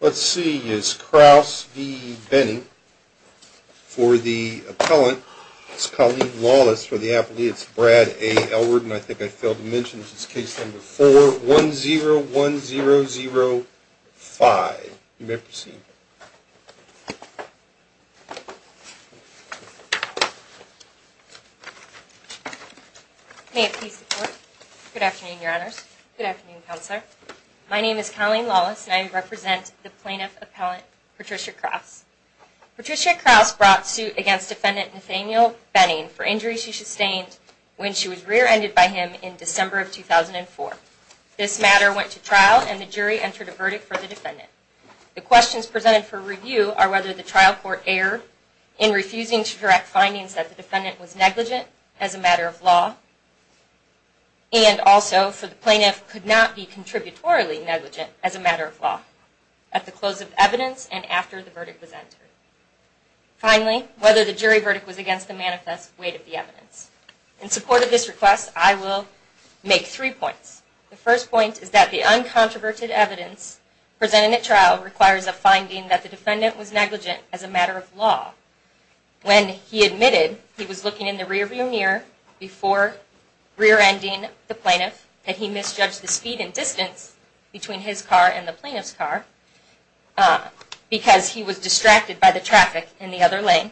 Let's see, is Crouse v. Benning for the appellant. It's Colleen Lawless for the appellate. It's Brad A. Elward and I think I failed to mention this is case number 4-101005. You may proceed. Colleen Lawless Good afternoon, Your Honors. Good afternoon, Counselor. My name is Colleen Lawless and I represent the plaintiff appellant Patricia Crouse. Patricia Crouse brought suit against defendant Nathaniel Benning for injuries she sustained when she was rear-ended by him in December of 2004. This matter went to trial and the jury entered a verdict for the defendant. The questions presented for review are whether the trial court erred in refusing to direct findings that the defendant was negligent as a matter of law and also for the plaintiff could not be contributorily negligent as a matter of law at the close of evidence and after the verdict was entered. Finally, whether the jury verdict was against the manifest weight of the evidence. In support of this subverted evidence, presenting at trial requires a finding that the defendant was negligent as a matter of law when he admitted he was looking in the rear-view mirror before rear-ending the plaintiff that he misjudged the speed and distance between his car and the plaintiff's car because he was distracted by the traffic in the other lane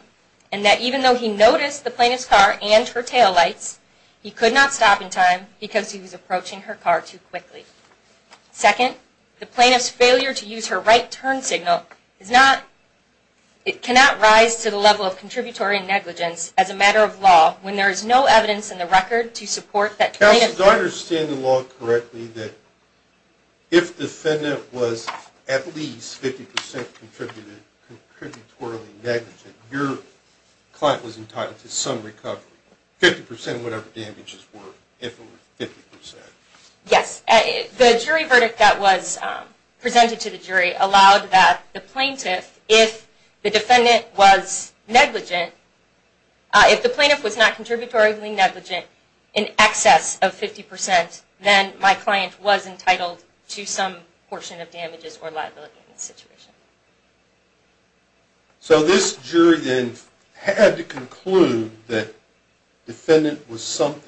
and that even though he noticed the plaintiff's car and her taillights, he could not stop in time because he was approaching her car too quickly. Second, the plaintiff's failure to use her right turn signal is not, it cannot rise to the level of contributory negligence as a matter of law when there is no evidence in the record to support that the plaintiff... Counsel, do I understand the law correctly that if the defendant was at least 50% contributory negligent, your client was entitled to some recovery, 50% of whatever damages were, if they were 50%? Yes. The jury verdict that was presented to the jury allowed that the plaintiff, if the defendant was negligent, if the plaintiff was not contributory negligent in excess of 50%, then my client was entitled to some portion of damages or liability in the situation. So this jury then had to conclude that the plaintiff was 50%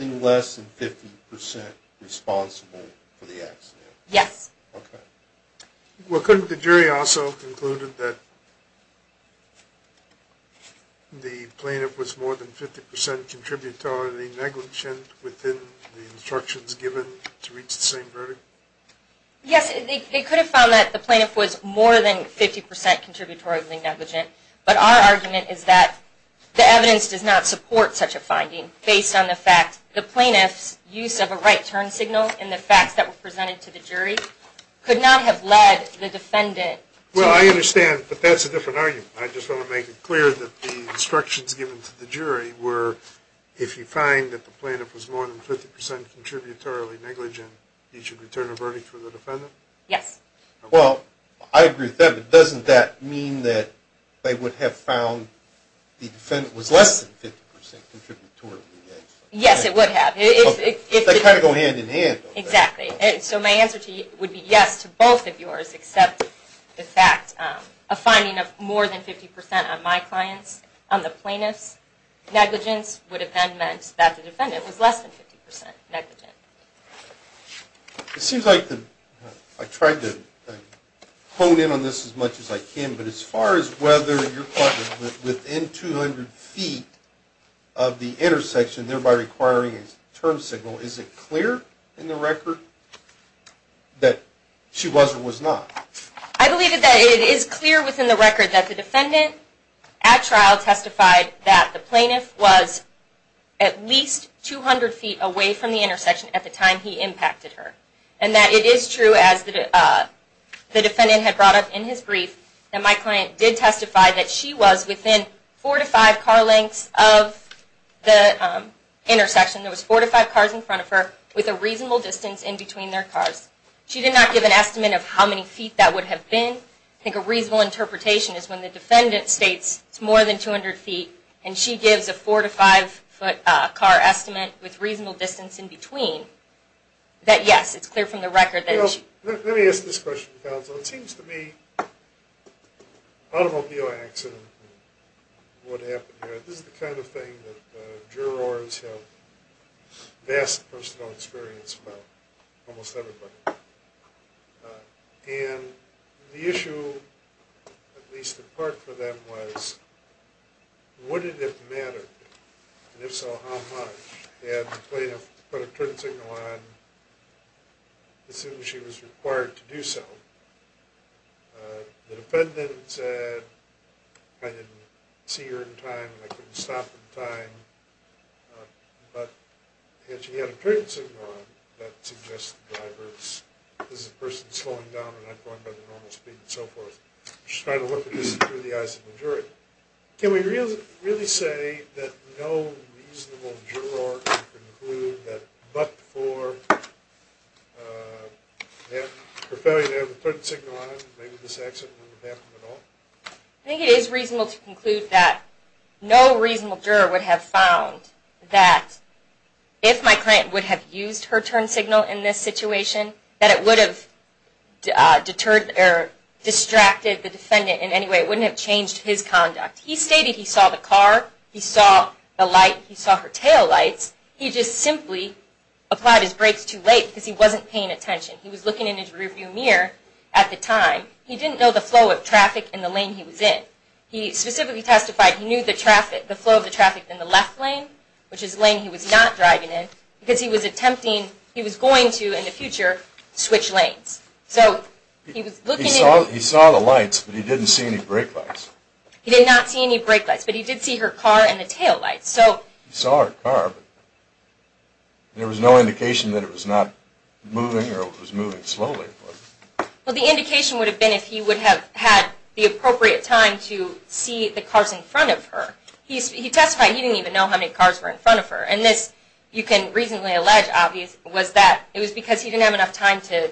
responsible for the accident? Yes. Well, couldn't the jury also conclude that the plaintiff was more than 50% contributory negligent within the instructions given to reach the same verdict? Yes, they could have found that the plaintiff was more than 50% contributory negligent, but our argument is that the evidence does not support such a finding based on the fact that the plaintiff's use of a right turn signal in the facts that were presented to the jury could not have led the defendant... Well, I understand, but that's a different argument. I just want to make it clear that the instructions given to the jury were if you find that the plaintiff was more than 50% contributory negligent, you should return a verdict for the defendant? Yes. Well, I agree with that, but doesn't that mean that they would have found the defendant was less than 50% contributory negligent? Yes, it would have. They kind of go hand in hand. Exactly. So my answer to you would be yes to both of yours, except the fact of finding more than 50% on my client's, on the plaintiff's negligence would have then meant that the defendant was less than 50% negligent. It seems like I tried to hone in on this as much as I can, but as far as whether your client was within 100 feet of the intersection, thereby requiring a turn signal, is it clear in the record that she was or was not? I believe that it is clear within the record that the defendant at trial testified that the plaintiff was at least 200 feet away from the intersection at the time he impacted her, and that it is true as the defendant had brought up in his brief that my client did testify that she was within 4 to 5 car lengths of the intersection, there was 4 to 5 cars in front of her, with a reasonable distance in between their cars. She did not give an estimate of how many feet that would have been. I think a reasonable interpretation is when the defendant states it's more than 200 feet and she gives a 4 to 5 foot car estimate with reasonable distance in between, that yes, it's clear from the record. Let me ask this question, counsel. It seems to me an automobile accident would happen here. This is the kind of thing that jurors have vast personal experience about, almost everybody. And the issue, at least in part for them, was would it have mattered, and if so, how much? Had the plaintiff put a turn signal on as soon as she was required to do so? The defendant said, I didn't see her in time and I couldn't stop in time, but had she had a turn signal on, that suggests the driver is a person slowing down and not going by the normal speed and so forth. I'm just trying to look at this through the eyes of a reasonable juror to conclude that but for her failure to have a turn signal on, maybe this accident wouldn't have happened at all? I think it is reasonable to conclude that no reasonable juror would have found that if my client would have used her turn signal in this situation, that it would have distracted the defendant in any way. It wouldn't have changed his conduct. He stated he saw the car, he saw the light, he saw her tail lights, he just simply applied his brakes too late because he wasn't paying attention. He was looking in his rearview mirror at the time. He didn't know the flow of traffic in the lane he was in. He specifically testified he knew the flow of traffic in the left lane, which is the lane he was not driving in, because he was attempting, he was going to in the future, switch lanes. He saw the lights, but he didn't see any brake lights? He did not see any brake lights, but he did see her car and the tail lights. He saw her car, but there was no indication that it was not moving or it was moving slowly? Well, the indication would have been if he would have had the appropriate time to see the cars in front of her. He testified he didn't even know how many cars were in front of her. And this, you can reasonably allege, was that it was because he didn't have enough time to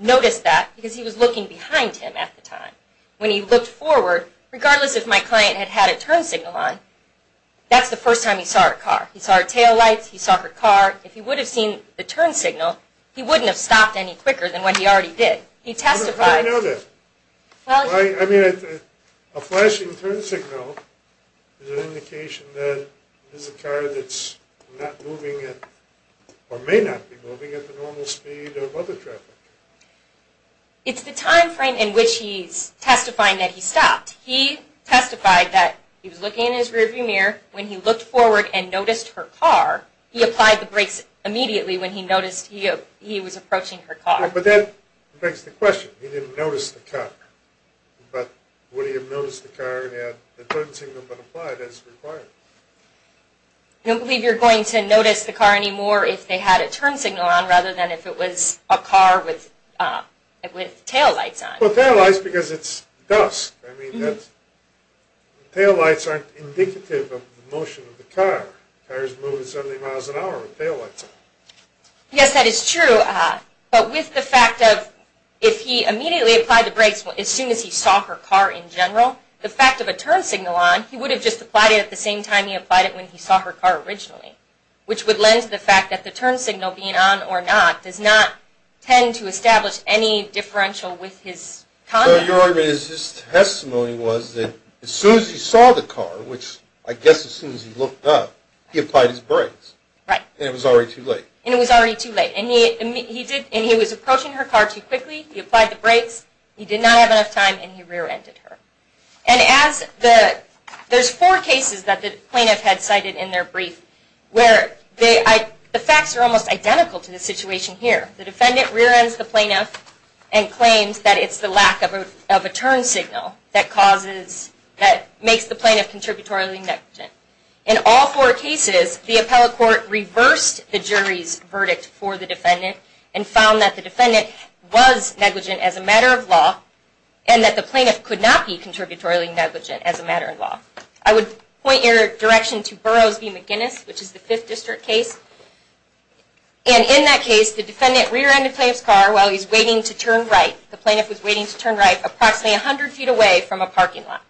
notice that because he was looking behind him at the time. When he looked forward, regardless if my client had had a turn signal on, that's the first time he saw her car. He saw her tail lights, he saw her car. If he would have seen the turn signal, he wouldn't have stopped any quicker than what he already did. How did he know that? A flashing turn signal is an indication that this is a car that's not moving or may not be moving at the normal speed of other traffic. It's the time frame in which he's testifying that he stopped. He testified that he was looking in his rearview mirror. When he looked forward and noticed her car, he applied the brakes immediately when he noticed he was approaching her car. But that begs the question. He didn't notice the car. But would he have noticed the car and had the turn signal been applied as required? I don't believe you're going to notice the car anymore if they had a turn signal on rather than if it was a car with tail lights on. Well, tail lights because it's dust. I mean, tail lights aren't indicative of the motion of the car. Cars move at 70 miles an hour with tail lights on. Yes, that is true. But with the fact of, if he immediately applied the brakes as soon as he saw her car in general, the fact of a turn signal on, he would have just applied it at the same time he applied it when he saw her car originally, which would lend to the fact that the turn signal being on or not does not tend to establish any differential with his conduct. So your argument is his testimony was that as soon as he saw the car, which I guess as soon as he looked up, he applied his brakes. Right. And it was already too late. And it was already too late. And he was approaching her car too quickly, he applied the brakes, he did not have enough time, and he rear-ended her. And as the, there's four cases that the plaintiff had cited in their brief where the facts are almost identical to the situation here. The defendant rear-ends the plaintiff and claims that it's the lack of a turn signal that causes, that makes the plaintiff contributorily negligent. In all four cases, the appellate court reversed the jury's verdict for the defendant and found that the defendant was negligent as a matter of law and that the plaintiff could not be contributorily negligent as a matter of law. I would point your direction to Burroughs v. McGinnis, which is the 5th District case. And in that case, the defendant rear-ended the plaintiff's car while he was waiting to turn right. The plaintiff was waiting to turn right approximately 100 feet away from a parking lot.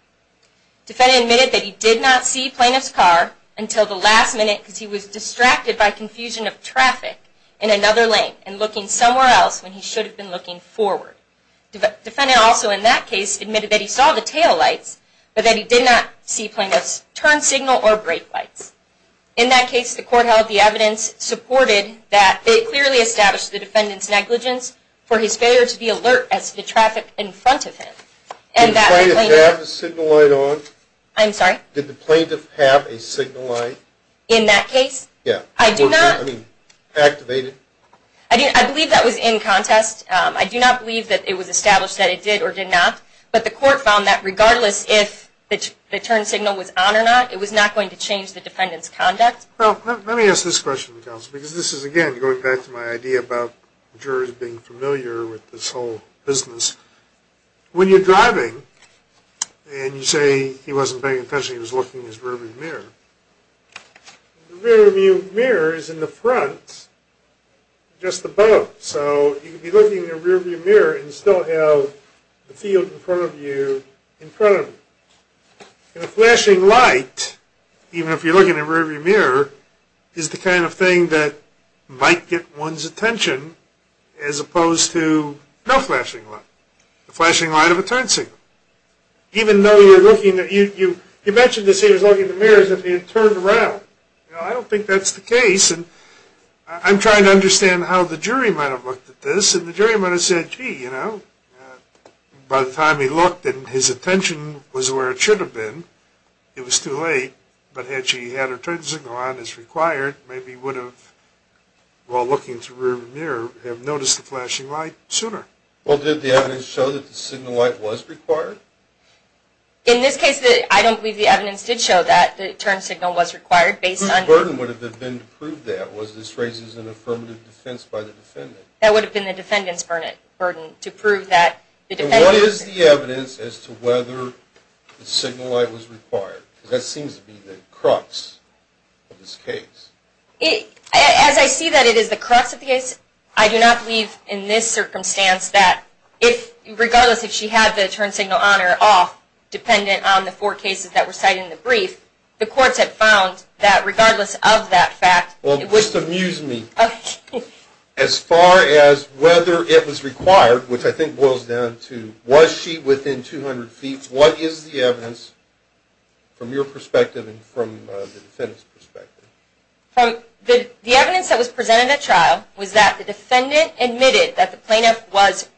The defendant admitted that he did not see the plaintiff's car until the last minute because he was distracted by confusion of traffic in another lane and looking somewhere else when he should have been looking forward. The defendant also, in that case, admitted that he saw the taillights but that he did not see plaintiff's turn signal or brake lights. In that case, the court held the evidence supported that they clearly established the defendant's negligence for his failure to be alert as to the traffic in front of him. Did the plaintiff have a signal light on? I'm sorry? Did the plaintiff have a signal light? In that case? Yeah. I do not... I mean, activated? I believe that was in contest. I do not believe that it was established that it did or did not. But the court found that regardless if the turn signal was on or not, it was not going to change the defendant's conduct. Well, let me ask this question, counsel, because this is, again, going back to my idea about jurors being familiar with this whole business. When you're driving and you say he wasn't paying attention, he was looking in his rear view mirror is in the front, just above. So he could be looking in the rear view mirror and still have the field in front of you in front of him. And a flashing light, even if you're looking in the rear view mirror, is the kind of thing that might get one's attention as opposed to no flashing light. The flashing light of a turn signal. Even though you're looking at... He mentioned this, he was looking in the mirror as if he had turned around. I don't think that's the case. I'm trying to understand how the jury might have looked at this, and the jury might have said, gee, you know, by the time he looked and his attention was where it should have been, it was too late. But had she had her turn signal on as required, maybe he would have, while looking in the rear view mirror, have noticed the flashing light sooner. Well, did the evidence show that the signal light was required? In this case, I don't believe the evidence did show that the turn signal was required based on... Whose burden would it have been to prove that? Was this raised as an affirmative defense by the defendant? That would have been the defendant's burden to prove that the defendant... And what is the evidence as to whether the signal light was required? Because that seems to be the crux of this case. As I see that it is the crux of the case, I do not believe in this circumstance that regardless if she had the turn signal on or off, dependent on the four cases that were cited in the brief, the courts have found that regardless of that fact... Well, just amuse me. As far as whether it was required, which I think boils down to, was she within 200 feet? What is the evidence from your perspective and from the defendant's perspective? The evidence that was presented at trial was that the defendant admitted that the plaintiff was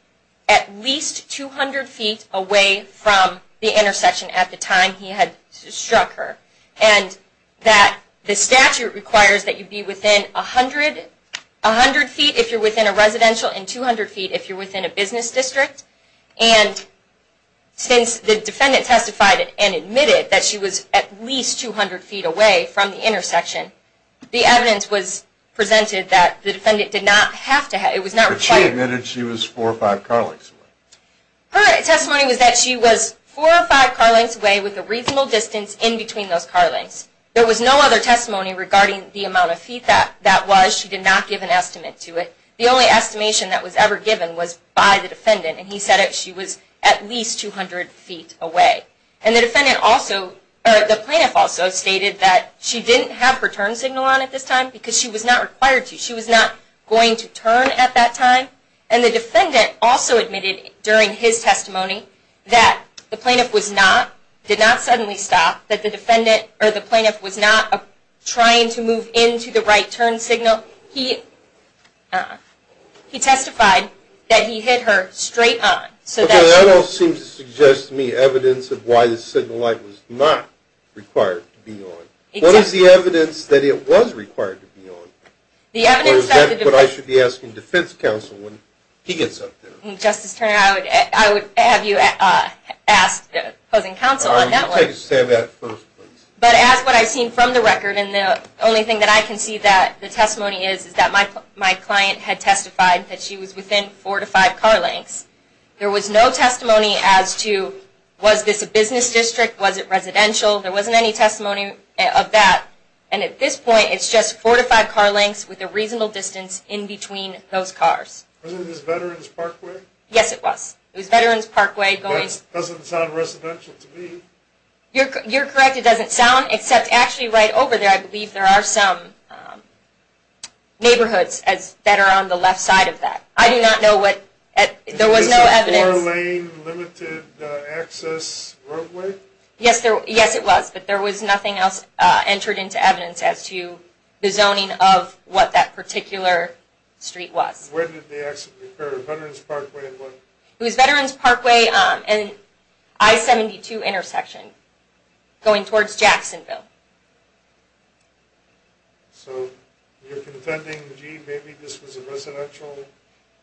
at least 200 feet away from the intersection at the time he had struck her. And that the statute requires that you be within 100 feet if you're within a residential and 200 feet if you're within a business district. And since the defendant testified and admitted that she was at least 200 feet away from the intersection, the evidence was presented that the defendant did not have to... But she admitted she was 4 or 5 car lengths away. Her testimony was that she was 4 or 5 car lengths away with a reasonable distance in between those car lengths. There was no other testimony regarding the amount of feet that was. She did not give an estimate to it. The only estimation that was ever given was by the defendant. And he said that she was at least 200 feet away. And the plaintiff also stated that she didn't have her turn signal on at this time because she was not required to. She was not going to turn at that time. And the defendant also admitted during his testimony that the plaintiff did not suddenly stop. That the plaintiff was not trying to move into the right turn signal. He testified that he hit her straight on. That all seems to suggest to me evidence of why the signal light was not required to be on. What is the evidence that it was required to be on? Or is that what I should be asking defense counsel when he gets up there? Justice Turner, I would have you ask opposing counsel on that one. I'll take a stab at it first, please. But as what I've seen from the record and the only thing that I can see that the testimony is is that my client had testified that she was within 4 to 5 car lengths. There was no testimony as to was this a business district, was it residential? There wasn't any testimony of that. And at this point, it's just 4 to 5 car lengths with a reasonable distance in between those cars. Wasn't this Veterans Parkway? Yes, it was. It was Veterans Parkway. It doesn't sound residential to me. You're correct. It doesn't sound, except actually right over there I believe there are some neighborhoods that are on the left side of that. I do not know what, there was no evidence. Is this a 4 lane limited access roadway? Yes, it was, but there was nothing else entered into evidence as to the zoning of what that particular street was. Where did the exit occur? Veterans Parkway and what? It was Veterans Parkway and I-72 intersection going towards Jacksonville. So you're contending, gee, maybe this was a residential?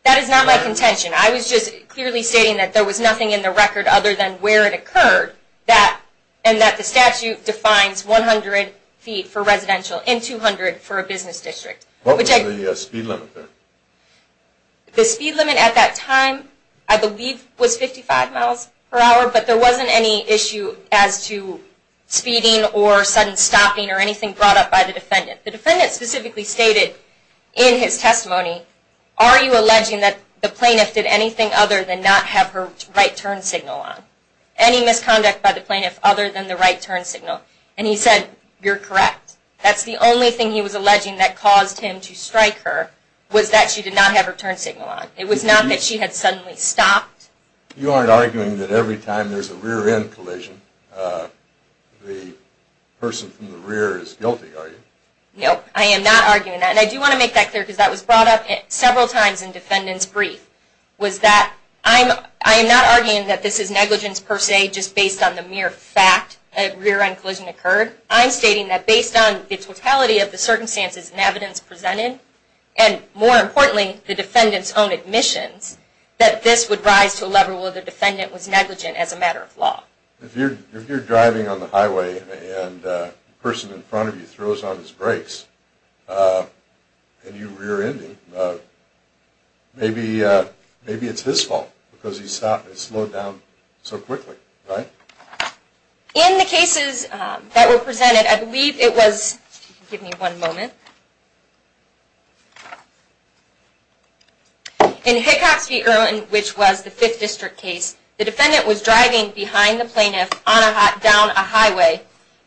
That is not my contention. I was just clearly stating that there was nothing in the record other than where it occurred and that the statute defines 100 feet for residential and 200 for a business district. What was the speed limit there? The speed limit at that time I believe was 55 miles per hour, but there wasn't any issue as to speeding or sudden stopping or anything brought up by the defendant. The defendant specifically stated in his testimony, are you alleging that the plaintiff did anything other than not have her right turn signal on? Any misconduct by the plaintiff other than the right turn signal? And he said, you're correct. That's the only thing he was alleging that caused him to strike her, was that she did not have her turn signal on. It was not that she had suddenly stopped. You aren't arguing that every time there's a rear end collision, the person from the rear is guilty, are you? No, I am not arguing that. And I do want to make that clear because that was brought up several times in the defendant's brief. I am not arguing that this is negligence per se, just based on the mere fact that a rear end collision occurred. I'm stating that based on the totality of the circumstances and evidence presented, and more importantly, the defendant's own admissions, that this would rise to a level where the defendant was negligent as a matter of law. If you're driving on the highway and the person in front of you throws on his brakes and you rear end him, maybe it's his fault because he stopped and slowed down so quickly, right? In the cases that were presented, I believe it was, if you could give me one moment, in Hickox v. Irwin, which was the 5th District case, the defendant was driving behind the plaintiff down a highway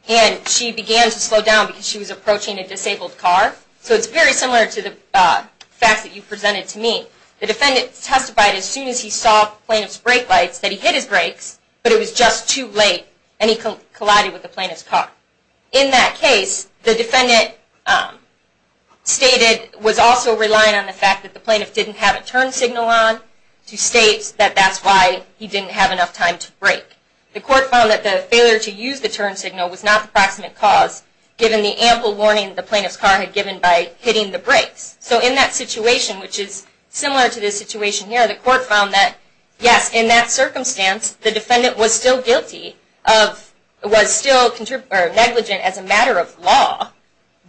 and she began to slow down because she was approaching a disabled car. So it's very similar to the facts that you presented to me. The defendant testified as soon as he saw the plaintiff's brake lights that he hit his brakes but it was just too late and he collided with the plaintiff's car. In that case, the defendant stated, was also relying on the fact that the plaintiff didn't have a turn signal on to state that that's why he didn't have enough time to brake. The court found that the failure to use the turn signal was not the proximate cause given the ample warning the plaintiff's car had given by hitting the brakes. So in that situation, which is similar to the situation here, the court found that, yes, in that circumstance, the defendant was still guilty of, was still negligent as a matter of law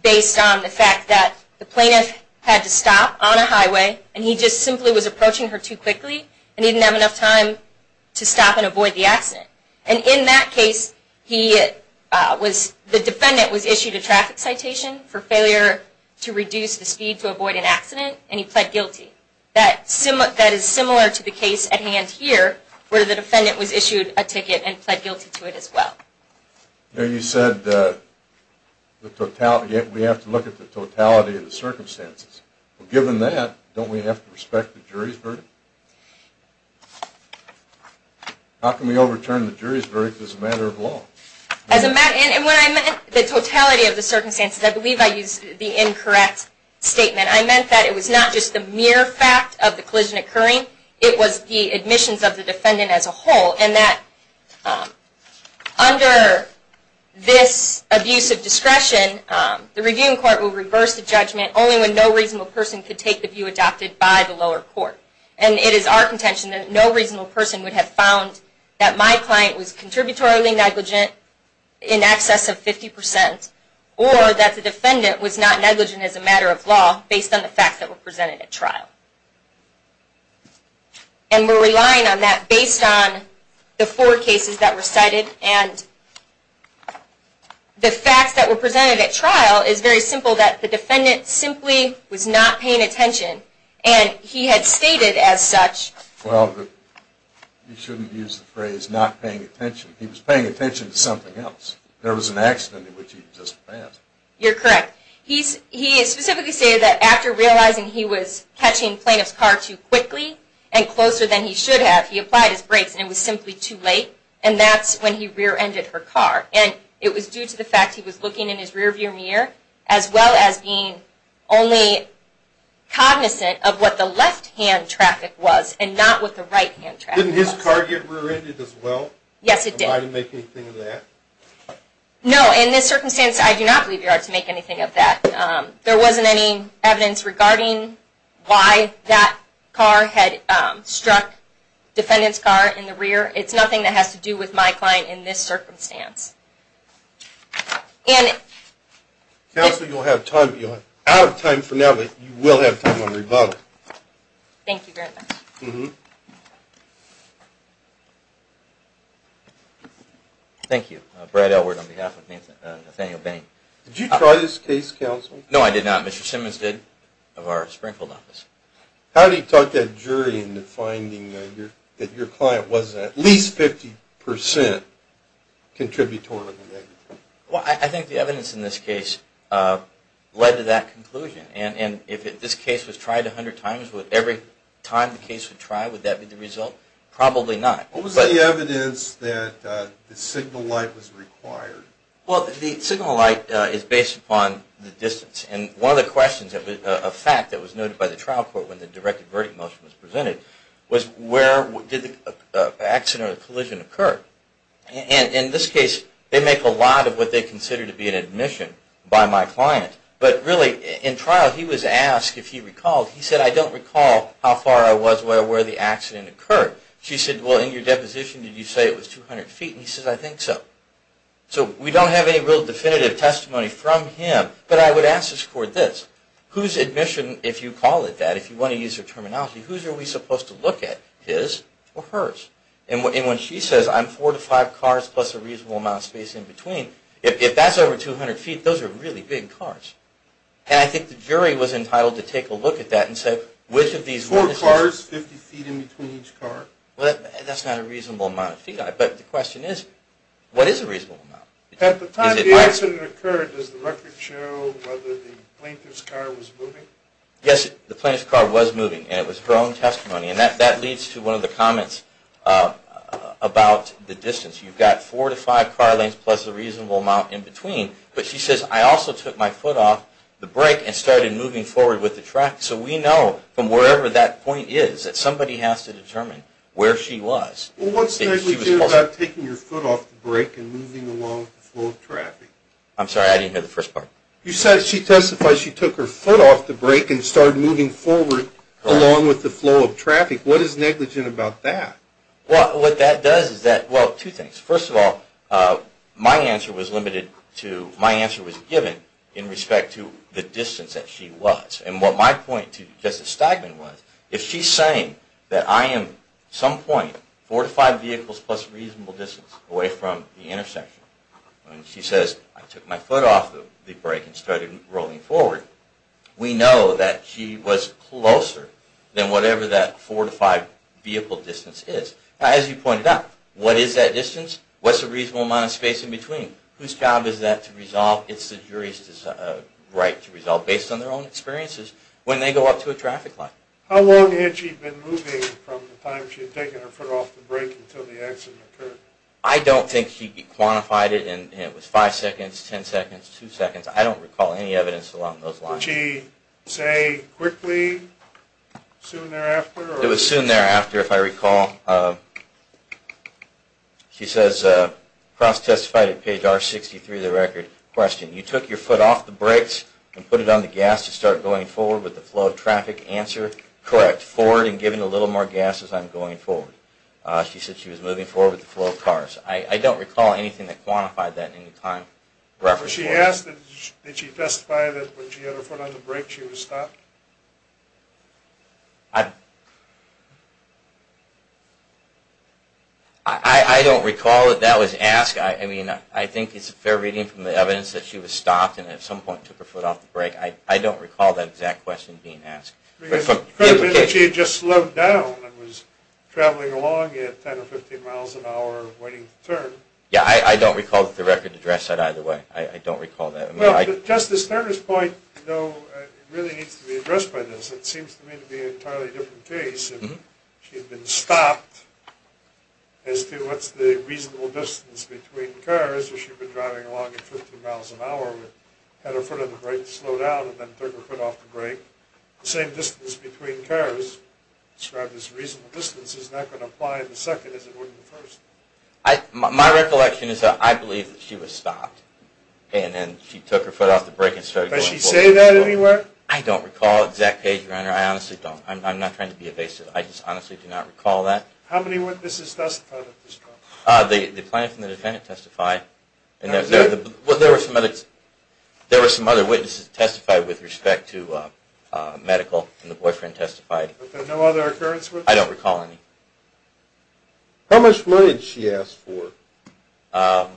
based on the fact that the plaintiff had to stop on a highway and he just simply was approaching her too quickly and didn't have enough time to stop and avoid the accident. And in that case, the defendant was issued a traffic citation for failure to reduce the speed to avoid an accident and he pled guilty. That is similar to the case at hand here where the defendant was issued a ticket and pled guilty to it as well. You said we have to look at the totality of the circumstances. Given that, don't we have to respect the jury's verdict? How can we overturn the jury's verdict as a matter of law? And when I meant the totality of the circumstances, I believe I used the incorrect statement. I meant that it was not just the mere fact of the collision occurring, it was the admissions of the defendant as a whole and that under this abuse of discretion, the reviewing court will reverse the judgment only when no reasonable person could take the view adopted by the lower court. And it is our view that no reasonable person would have found that my client was contributory negligent in excess of 50% or that the defendant was not negligent as a matter of law based on the facts that were presented at trial. And we're relying on that based on the four cases that were cited and the facts that were presented at trial is very simple, that the defendant simply was not paying attention and he had stated as such Well, you shouldn't use the phrase not paying attention. He was paying attention to something else. There was an accident in which he just passed. You're correct. He specifically stated that after realizing he was catching the plaintiff's car too quickly and closer than he should have, he applied his brakes and it was simply too late and that's when he rear-ended her car. And it was due to the fact that he was looking in his rear-view mirror as well as being only cognizant of what the left-hand traffic was and not what the right-hand traffic was. Didn't his car get rear-ended as well? Yes it did. Somebody make anything of that? No, in this circumstance I do not believe you're allowed to make anything of that. There wasn't any evidence regarding why that car had struck the defendant's car in the rear. It's nothing that has to do with my client in this circumstance. Counselor, you'll have time out of time for now, but you will have time on rebuttal. Thank you very much. Thank you. Brad Elwood on behalf of Nathaniel Bain. Did you try this case, Counselor? No, I did not. Mr. Simmons did, of our Springfield office. How did he talk that jury into finding that your client was at least 50% contributory to the negative? Well, I think the evidence in this case led to that conclusion. And if this case was tried 100 times, would every time the case was tried, would that be the result? Probably not. What was the evidence that the signal light was required? Well, the signal light is based upon the distance. And one of the questions, a fact that was noted by the trial court when the direct verdict motion was presented, was where did the accident or the collision occur? And in this case, they make a lot of what they consider to be an admission by my client. But really in trial, he was asked if he recalled, he said, I don't recall how far I was where the accident occurred. She said, well, in your deposition did you say it was 200 feet? And he said, I think so. So we don't have any real definitive testimony from him, but I would ask this court this. Whose admission, if you call it that, if you want to use your terminology, whose are we supposed to look at? His or hers? And when she says, I'm four to five cars plus a reasonable amount of space in between, if that's over 200 feet, those are really big cars. And I think the jury was entitled to take a look at that and say which of these witnesses... Four cars, 50 feet in between each car? That's not a reasonable amount of feet, but the question is, what is a reasonable amount? At the time the accident occurred, does the record show whether the plaintiff's car was moving? Yes, the plaintiff's car was moving. And it was her own testimony. And that leads to one of the comments about the distance. You've got four to five car lengths plus a reasonable amount in between. But she says, I also took my foot off the brake and started moving forward with the track. So we know from wherever that point is that somebody has to determine where she was. Well, what's the issue about taking your foot off the brake and moving along with the flow of traffic? I'm sorry, I didn't hear the first part. You said she testified she took her foot off the brake and started moving forward along with the flow of traffic. What is negligent about that? Well, what that does is that, well, two things. First of all, my answer was limited to, my answer was given in respect to the distance that she was. And what my point to Justice Steinman was, if she's saying that I am at some point four to five vehicles plus reasonable distance away from the intersection and she says, I took my foot off the brake and started rolling forward, we know that she was closer than whatever that four to five vehicle distance is. Now, as you pointed out, what is that distance? What's the reasonable amount of space in between? Whose job is that to resolve? It's the jury's right to resolve based on their own experiences when they go up to a traffic light. How long had she been moving from the time she had taken her foot off the brake until the accident occurred? I don't think she quantified it and it was five seconds, ten seconds, two seconds. I don't recall any evidence along those lines. Did she say quickly, soon thereafter? It was soon thereafter if I recall. She says cross testified at page R63 of the record. Question, you took your foot off the brakes and put it on the gas to start going forward with the flow of traffic. Answer, correct. Forward and giving a little more gas as I'm going forward. She said she was moving forward with the flow of cars. I don't recall anything that quantified that in any time. She asked, did she testify that when she had her foot on the brake she was stopped? I don't recall that that was asked. I mean, I think it's a fair reading from the evidence that she was stopped and at some point took her foot off the brake. I don't recall that exact question being asked. It could have been that she had just slowed down and was traveling along at 10 or 15 miles an hour waiting for the turn. Yeah, I don't recall that the record addressed that either way. I don't recall that. Well, but Justice Turner's point, you know, really needs to be addressed by this. It seems to me to be an entirely different case. If she had been stopped, as to what's the reasonable distance between cars, if she'd been driving along at 15 miles an hour and had her foot on the brake, slowed down, and then took her foot off the brake, the same distance between cars described as reasonable distance is not going to apply in the second as it would in the first. My recollection is that I believe that she was stopped and then she took her foot off the brake and started going forward. Does she say that anywhere? I don't recall exact page, Your Honor. I honestly don't. I'm not trying to be evasive. I just honestly do not recall that. How many witnesses testified at this trial? The plaintiff and the defendant testified. There were some other witnesses that testified with respect to medical and the boyfriend testified. But there are no other occurrences? I don't recall any. How much money did she ask for? I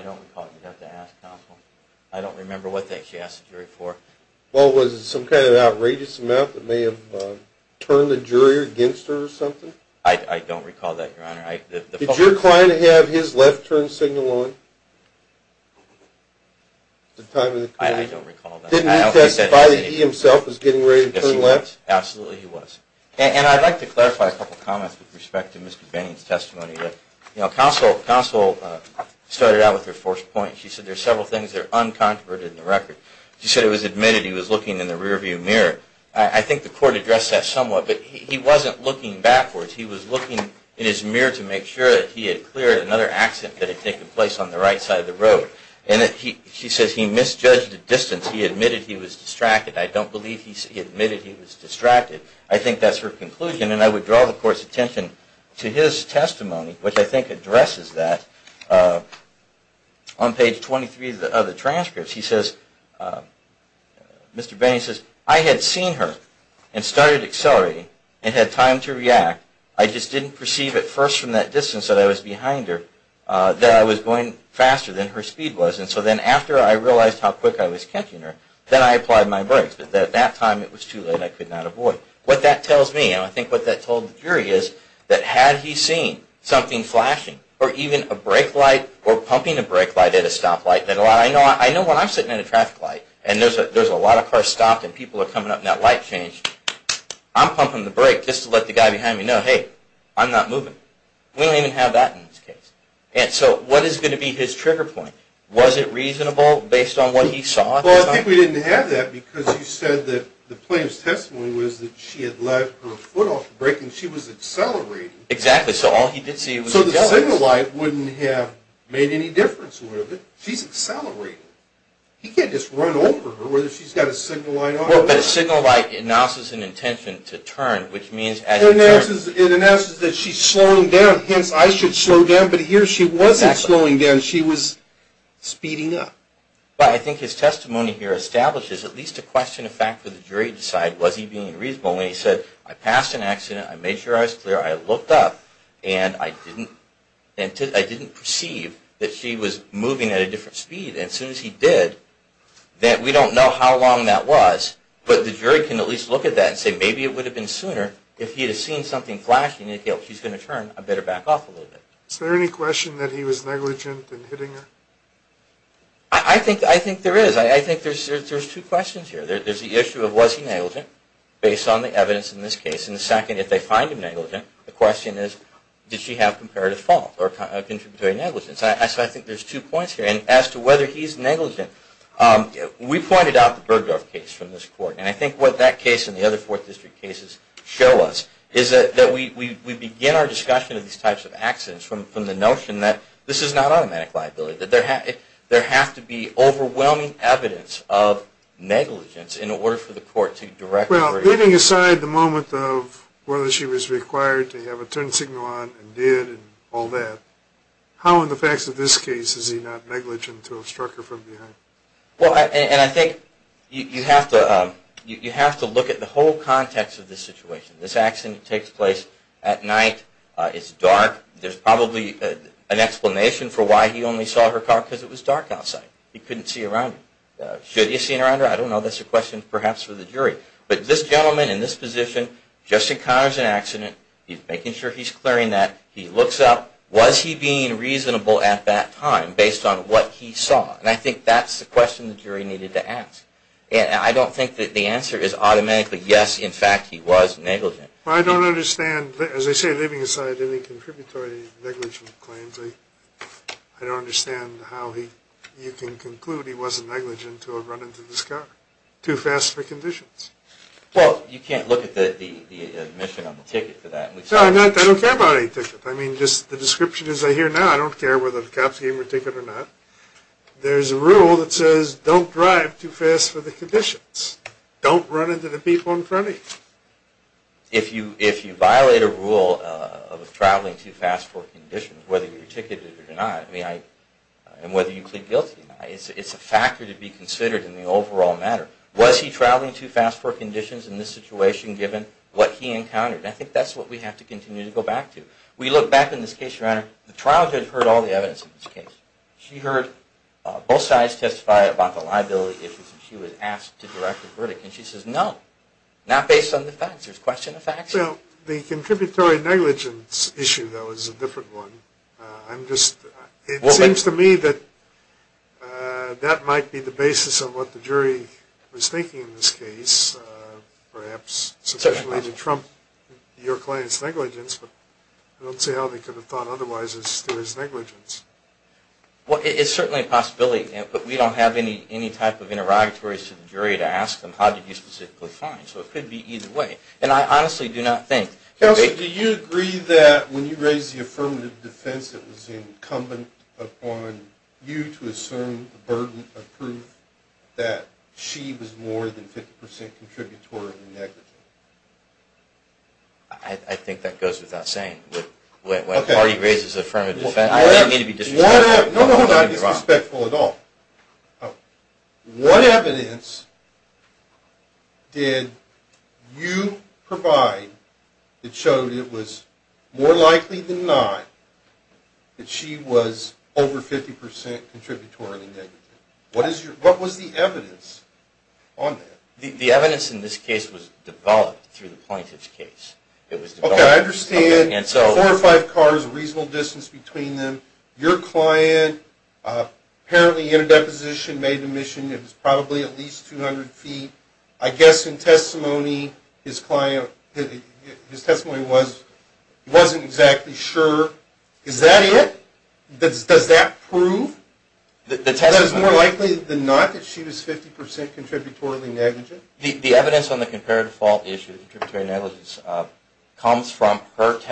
don't recall. You'd have to ask. I don't remember what she asked the jury for. Well, was it some kind of outrageous amount that may have turned the jury against her or something? I don't recall that, Your Honor. Did your client have his left turn signal on? I don't recall that. Didn't he testify that he himself was getting ready to turn left? Absolutely he was. And I'd like to clarify a couple of comments with respect to Mr. Bain's testimony. Counsel started out with her first point. She said there are several things that are uncontroverted in the record. She said it was admitted he was looking in the rearview mirror. I think the court addressed that somewhat, but he wasn't looking backwards. He was looking in his mirror to make sure that he had cleared another accident that had taken place on the right side of the road. And she says he misjudged the distance. He admitted he was distracted. I don't believe he admitted he was distracted. I think that's her conclusion. And I would draw the court's attention to his testimony, which I think addresses that. On page 23 of the transcripts, he says, Mr. Bain says, I had seen her and started accelerating and had time to react. I just didn't perceive at first from that distance that I was behind her that I was going faster than her speed was. And so then after I realized how quick I was catching her, then I applied my brakes. But at that time it was too late. I could not avoid. What that tells me, and I think what that told the jury is, that had he seen something flashing or even a brake light or pumping a brake light at a stoplight. I know when I'm sitting at a traffic light and there's a lot of cars stopped and people are coming up and that light changed, I'm pumping the brake just to let the guy behind me know, hey, I'm not moving. We don't even have that in this case. And so what is going to be his trigger point? Was it reasonable based on what he saw at the time? Well, I think we didn't have that because you said that the plaintiff's testimony was that she had left her foot off the brake and she was accelerating. Exactly. So all he did see was a yellow light. So the signal light wouldn't have made any difference. She's accelerating. He can't just run over her whether she's got a signal light on or not. Well, but a signal light announces an intention to turn, which means as it turns. It announces that she's slowing down. Hence, I should slow down. But here she wasn't slowing down. She was speeding up. Well, I think his testimony here establishes at least a question of fact for the jury to decide, was he being reasonable? And he said, I passed an accident. I made sure I was clear. I looked up. And I didn't perceive that she was moving at a different speed. And as soon as he did, we don't know how long that was. But the jury can at least look at that and say maybe it would have been sooner if he had seen something flashing. He's going to turn. I better back off a little bit. Is there any question that he was negligent in hitting her? I think there is. I think there's two questions here. There's the issue of was he negligent based on the evidence in this case? And the second, if they find him negligent, the question is, did she have comparative fault or contributory negligence? So I think there's two points here. And as to whether he's negligent, we pointed out the Bergdorf case from this court. And I think what that case and the other Fourth District cases show us is that we begin our discussion of these types of accidents from the notion that this is not automatic liability. That there has to be overwhelming evidence of negligence in order for the court to direct the jury. Well, leaving aside the moment of whether she was required to have a turn signal on and did and all that, how in the facts of this case is he not negligent to have struck her from behind? Well, and I think you have to look at the whole context of this situation. This accident takes place at night. It's dark. There's probably an explanation for why he only saw her car because it was dark outside. He couldn't see around it. Should he have seen around her? I don't know. That's a question perhaps for the jury. But this gentleman in this position just encounters an accident. He's making sure he's clearing that. He looks up. Was he being reasonable at that time based on what he saw? And I think that's the question the jury needed to ask. And I don't think that the answer is automatically yes, in fact, he was negligent. Well, I don't understand. As I say, leaving aside any contributory negligent claims, I don't understand how you can conclude he wasn't negligent to have run into this car. Too fast for conditions. Well, you can't look at the admission on the ticket for that. No, I don't care about any ticket. I mean, just the description as I hear now, I don't care whether the cops gave him a ticket or not. There's a rule that says don't drive too fast for the conditions. Don't run into the people in front of you. If you violate a rule of traveling too fast for conditions, whether you're ticketed or not, and whether you plead guilty or not, it's a factor to be considered in the overall matter. Was he traveling too fast for conditions in this situation given what he encountered? And I think that's what we have to continue to go back to. We look back in this case, Your Honor, the trial judge heard all the evidence in this case. She heard both sides testify about the verdict. And she says, no, not based on the facts. There's question of facts. Well, the contributory negligence issue, though, is a different one. I'm just, it seems to me that that might be the basis of what the jury was thinking in this case. Perhaps sufficiently to trump your claims negligence, but I don't see how they could have thought otherwise as to his negligence. Well, it's certainly a possibility, but we don't have any type of interrogatories to the jury to ask them, how did you specifically find? So it could be either way. And I honestly do not think... Counselor, do you agree that when you raise the affirmative defense, it was incumbent upon you to assume the burden of proof that she was more than 50% contributory negligent? I think that goes without saying. When a party raises affirmative defense, I don't mean to be disrespectful. No, no, no, not disrespectful at all. What evidence did you provide that showed it was more likely than not that she was over 50% contributory negligent? What was the evidence on that? The evidence in this case was developed through the plaintiff's case. Okay, I understand. Four or five cars, a reasonable distance between them. Your client, apparently in a deposition, made an admission it was probably at least 200 feet. I guess in testimony, his client, his testimony was he wasn't exactly sure. Is that it? Does that prove that it was more likely than not that she was 50% contributory negligent? The evidence on the comparative fault issue, contributory negligence, comes from her argument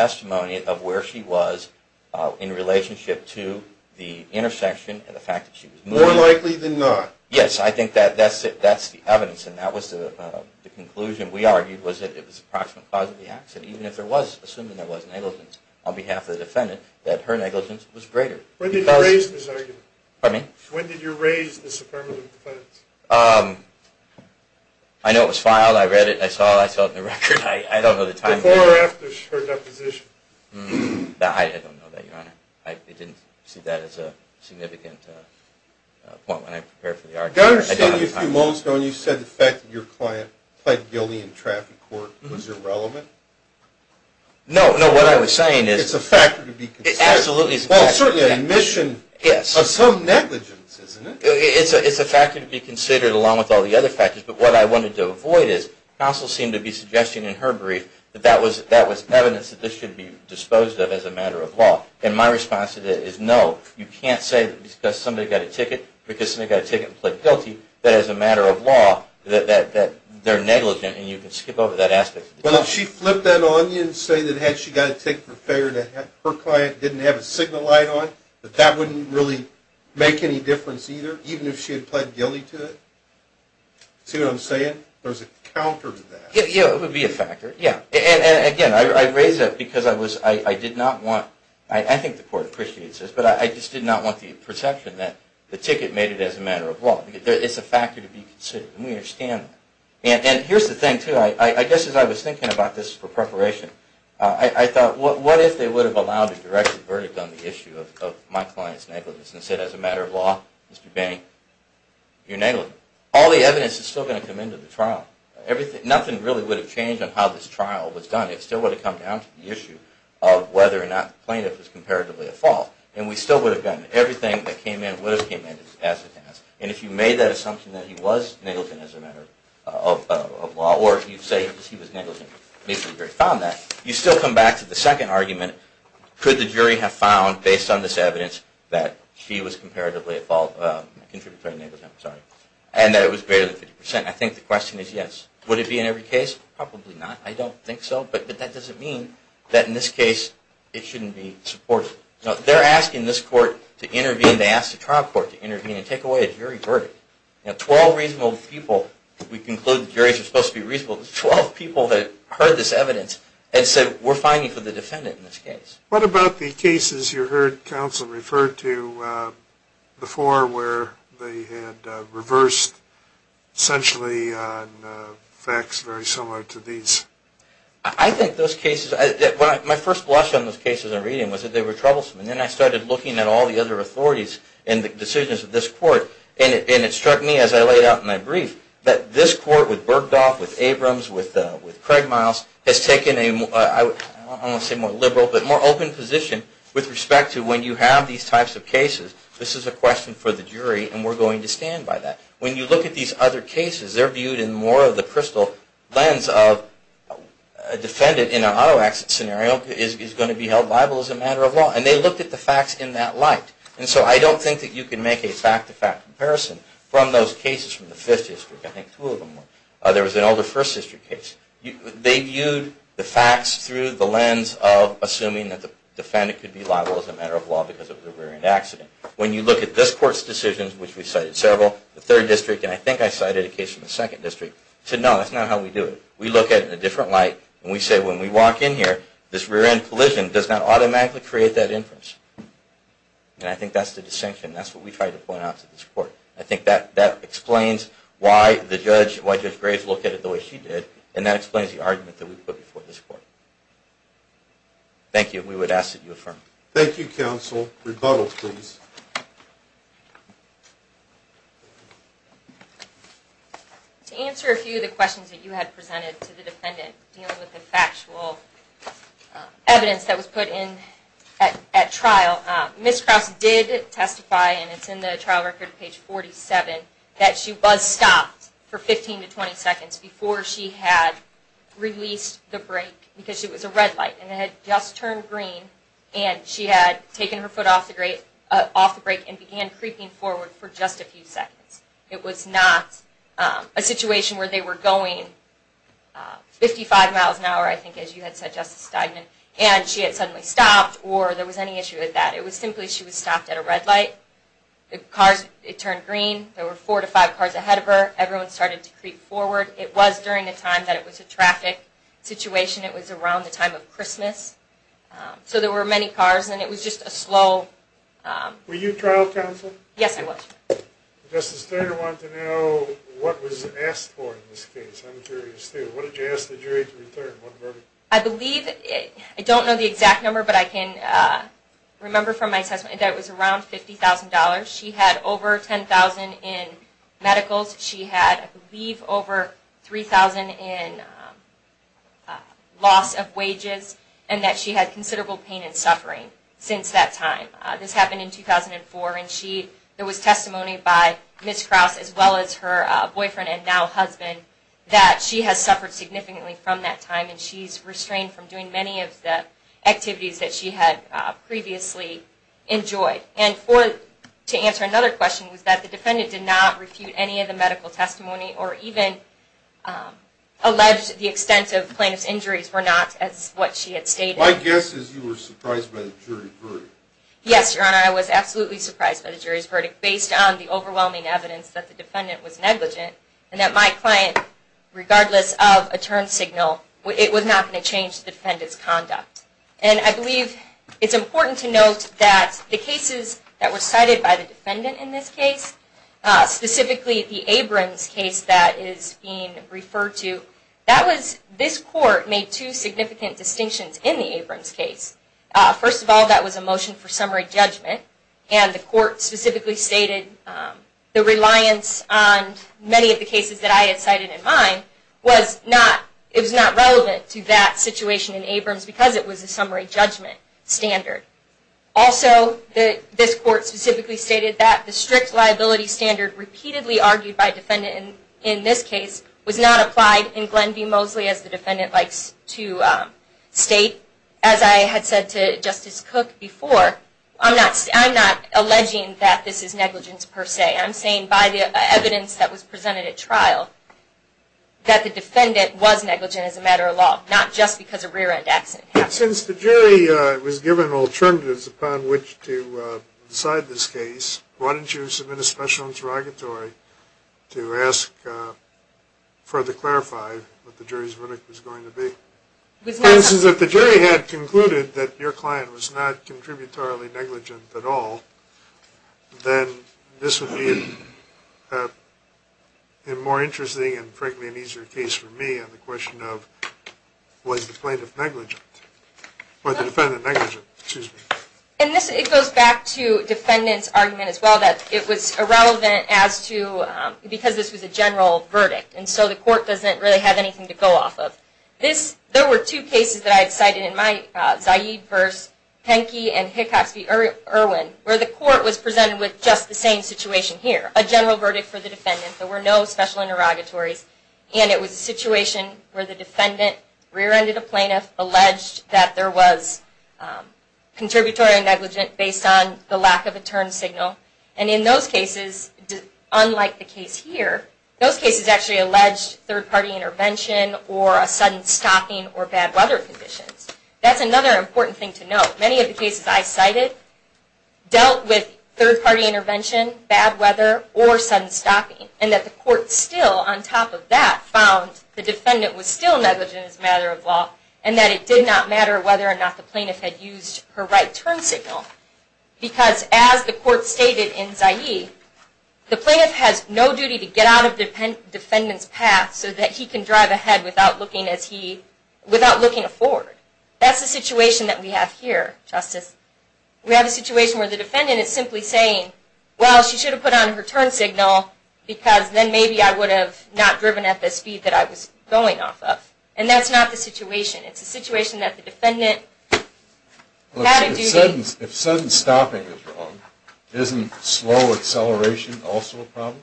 that she was in relationship to the intersection and the fact that she was more likely than not. Yes, I think that's the evidence and that was the conclusion. We argued that it was the approximate cause of the accident, even if there was negligence on behalf of the defendant, that her negligence was greater. When did you raise this argument? When did you raise this affirmative defense? I know it was filed, I read it, I saw it, I saw it in the record. Before or after her deposition? I don't know that, Your Honor. I didn't see that as a significant point when I prepared for the argument. Do I understand you a few moments ago when you said the fact that your client pled guilty in traffic court was irrelevant? No, no, what I was saying is it's a factor to be considered. Well, certainly an admission of some negligence, isn't it? It's a factor to be considered along with all the other factors, but what I wanted to avoid is, and I also seem to be suggesting in her brief, that that was evidence that this should be disposed of as a matter of law. And my response to that is no. You can't say that because somebody got a ticket and pled guilty that as a matter of law that they're negligent and you can skip over that aspect. Well, if she flipped that on you and said that had she got a ticket for fare that her client didn't have a signal light on, that that wouldn't really make any difference either, even if she had pled guilty to it? See what I'm saying? There's a counter to that. Yeah, it would be a factor. And again, I raise that because I did not want, I think the court appreciates this, but I just did not want the perception that the ticket made it as a matter of law. It's a factor to be considered, and we understand that. And here's the thing too, I guess as I was thinking about this for preparation, I thought, what if they would have allowed a directed verdict on the issue of my client's negligence and said as a matter of law, Mr. Bank, you're negligent. All the evidence is still going to come into the trial. Nothing really would have changed on how this trial was done. It still would have come down to the issue of whether or not the plaintiff was comparatively at fault. And we still would have gotten everything that came in, would have came in as a task. And if you made that assumption that he was negligent as a matter of law, or if you say that he was negligent and basically found that, you still come back to the assumption that he was comparatively at fault. And that it was greater than 50%. I think the question is yes. Would it be in every case? Probably not. I don't think so. But that doesn't mean that in this case it shouldn't be supported. They're asking this court to intervene. They asked the trial court to intervene and take away a jury verdict. Twelve reasonable people, we conclude that juries are supposed to be reasonable. Twelve people heard this evidence and said, we're fining for the defendant in this case. What about the cases you heard counsel refer to before where they had reversed essentially on facts very similar to these? I think those cases, my first blush on those cases in reading was that they were troublesome. And then I started looking at all the other authorities and the decisions of this court and it struck me as I laid out in my brief that this court with Bergdorf, with Abrams, with Craig Miles has taken a more, I don't want to say more liberal, but more open position with respect to when you have these types of cases, this is a question for the jury and we're going to stand by that. When you look at these other cases, they're viewed in more of the crystal lens of a defendant in an auto accident scenario is going to be held liable as a matter of law. And they looked at the facts in that light. And so I don't think that you can make a fact-to-fact comparison from those cases from the Fifth District. I think two of them were. There was an older First District case. They viewed the facts through the lens of assuming that the defendant could be liable as a matter of law because of the rear-end accident. When you look at this court's decisions, which we cited several, the Third District, and I think I cited a case from the Second District, said no, that's not how we do it. We look at it in a different light and we say when we walk in here, this rear-end collision does not automatically create that inference. And I think that's the distinction. That's what we tried to point out to this court. I think that explains why the judge, why that explains the argument that we put before this court. Thank you. We would ask that you affirm. Thank you, counsel. Rebuttals, please. To answer a few of the questions that you had presented to the defendant dealing with the factual evidence that was put in at trial, Ms. Krause did testify, and it's in the trial record, page 47, that she was stopped for 15 to 20 seconds before she had released the brake because it was a red light and it had just turned green and she had taken her foot off the brake and began creeping forward for just a few seconds. It was not a situation where they were going 55 miles an hour, I think, as you had said, Justice Steigman, and she had suddenly stopped or there was any issue with that. It was simply she was stopped at a red light. The cars, it turned green. There were four to five cars ahead of her. Everyone started to creep forward. It was during the time that it was a traffic situation. It was around the time of Christmas. So there were many cars, and it was just a slow... Were you trial counsel? Yes, I was. Justice Steigman wanted to know what was asked for in this case. I'm curious, too. What did you ask the jury to return? I believe, I don't know the exact number, but I can remember from my assessment that it was around $50,000. She had over $10,000 in medicals. She had, I believe, over $3,000 in loss of wages, and that she had considerable pain and suffering since that time. This happened in 2004, and there was testimony by Ms. Krause, as well as her boyfriend and now husband, that she has suffered significantly from that time, and she's restrained from doing many of the activities that she had previously enjoyed. And to answer another question, was that the defendant did not refute any of the medical testimony, or even allege the extensive plaintiff's injuries were not as what she had stated. My guess is you were surprised by the jury's verdict. Yes, Your Honor, I was absolutely surprised by the jury's verdict, based on the overwhelming evidence that the defendant was negligent, and that my client, regardless of a turn signal, it was not going to change the defendant's conduct. And I believe it's important to note that the cases that were cited by the defendant in this case, specifically the Abrams case that is being referred to, that was, this court made two significant distinctions in the Abrams case. First of all, that was a motion for summary judgment, and the court specifically stated the reliance on many of the cases that I had cited in mine was not, it was not relevant to that situation in Abrams because it was a summary judgment standard. Also, this court specifically stated that the strict liability standard repeatedly argued by a defendant in this case was not applied in Glenn v. Mosley, as the defendant likes to state. As I had said to Justice Cook before, I'm not alleging that this is negligence per se. I'm saying by the evidence that was presented at trial, that the defendant was negligent as a matter of law, not just because a rear-end accident happened. Since the jury was given alternatives upon which to decide this case, why don't you submit a special interrogatory to ask further clarify what the jury's verdict was going to be? If the jury had concluded that your client was not contributorily negligent at all, then this would be a more interesting and frankly an easier case for me on the question of was the plaintiff negligent? Was the defendant negligent? Excuse me. It goes back to defendant's argument as well that it was irrelevant as to because this was a general verdict and so the court doesn't really have anything to go off of. There were two cases that I had cited in my Zaid v. Penke and Hickox v. Irwin where the court was presented with just the same situation here. A general verdict for the defendant, there were no special interrogatories and it was a situation where the defendant rear-ended a plaintiff, alleged that there was contributory negligence based on the lack of a turn signal and in those cases, unlike the case here, those cases actually alleged third-party intervention or a sudden stopping or bad weather conditions. That's another important thing to note. Many of the cases I cited dealt with third-party intervention, bad weather, or sudden stopping and that the court still, on top of that, found the defendant was still negligent as a matter of law and that it did not matter whether or not the plaintiff had used her right turn signal. Because as the court stated in Zaid, the plaintiff has no duty to get out of the defendant's path so that he can drive ahead without looking forward. That's the situation that we have here, Justice. We have a situation where the defendant is simply saying, well, she should have put on her turn signal because then maybe I would have not driven at the speed that I was going off of. And that's not the situation. It's a situation that the defendant had a duty. If sudden stopping is wrong, isn't slow acceleration also a problem?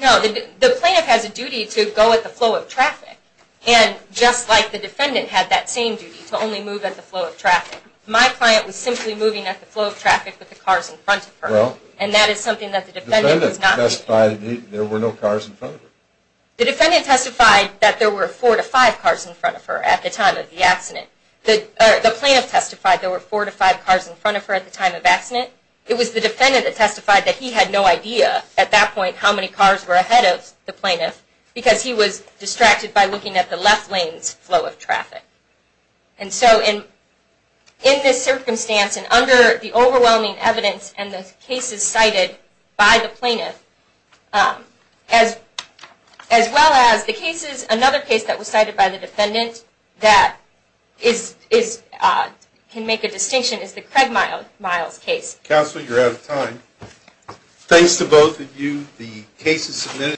No, the plaintiff has a duty to go at the flow of traffic and just like the defendant had that same duty, to only move at the flow of traffic. My client was simply moving at the flow of traffic with the cars in front of her and that is something that the defendant must. The defendant testified that there were 4-5 cars in front of her at the time of the accident. The plaintiff testified there were 4-5 cars in front of her at the time of the accident. It was the defendant that testified that he had no idea at that point how many cars were ahead of the plaintiff because he was distracted by looking at the left lane's flow of traffic. In this circumstance and under the overwhelming evidence and the cases cited by the plaintiff as well as the cases another case that was cited by the defendant that is can make a distinction is the Craig Miles case. Counselor, you're out of time. Thanks to both of you. The case is submitted.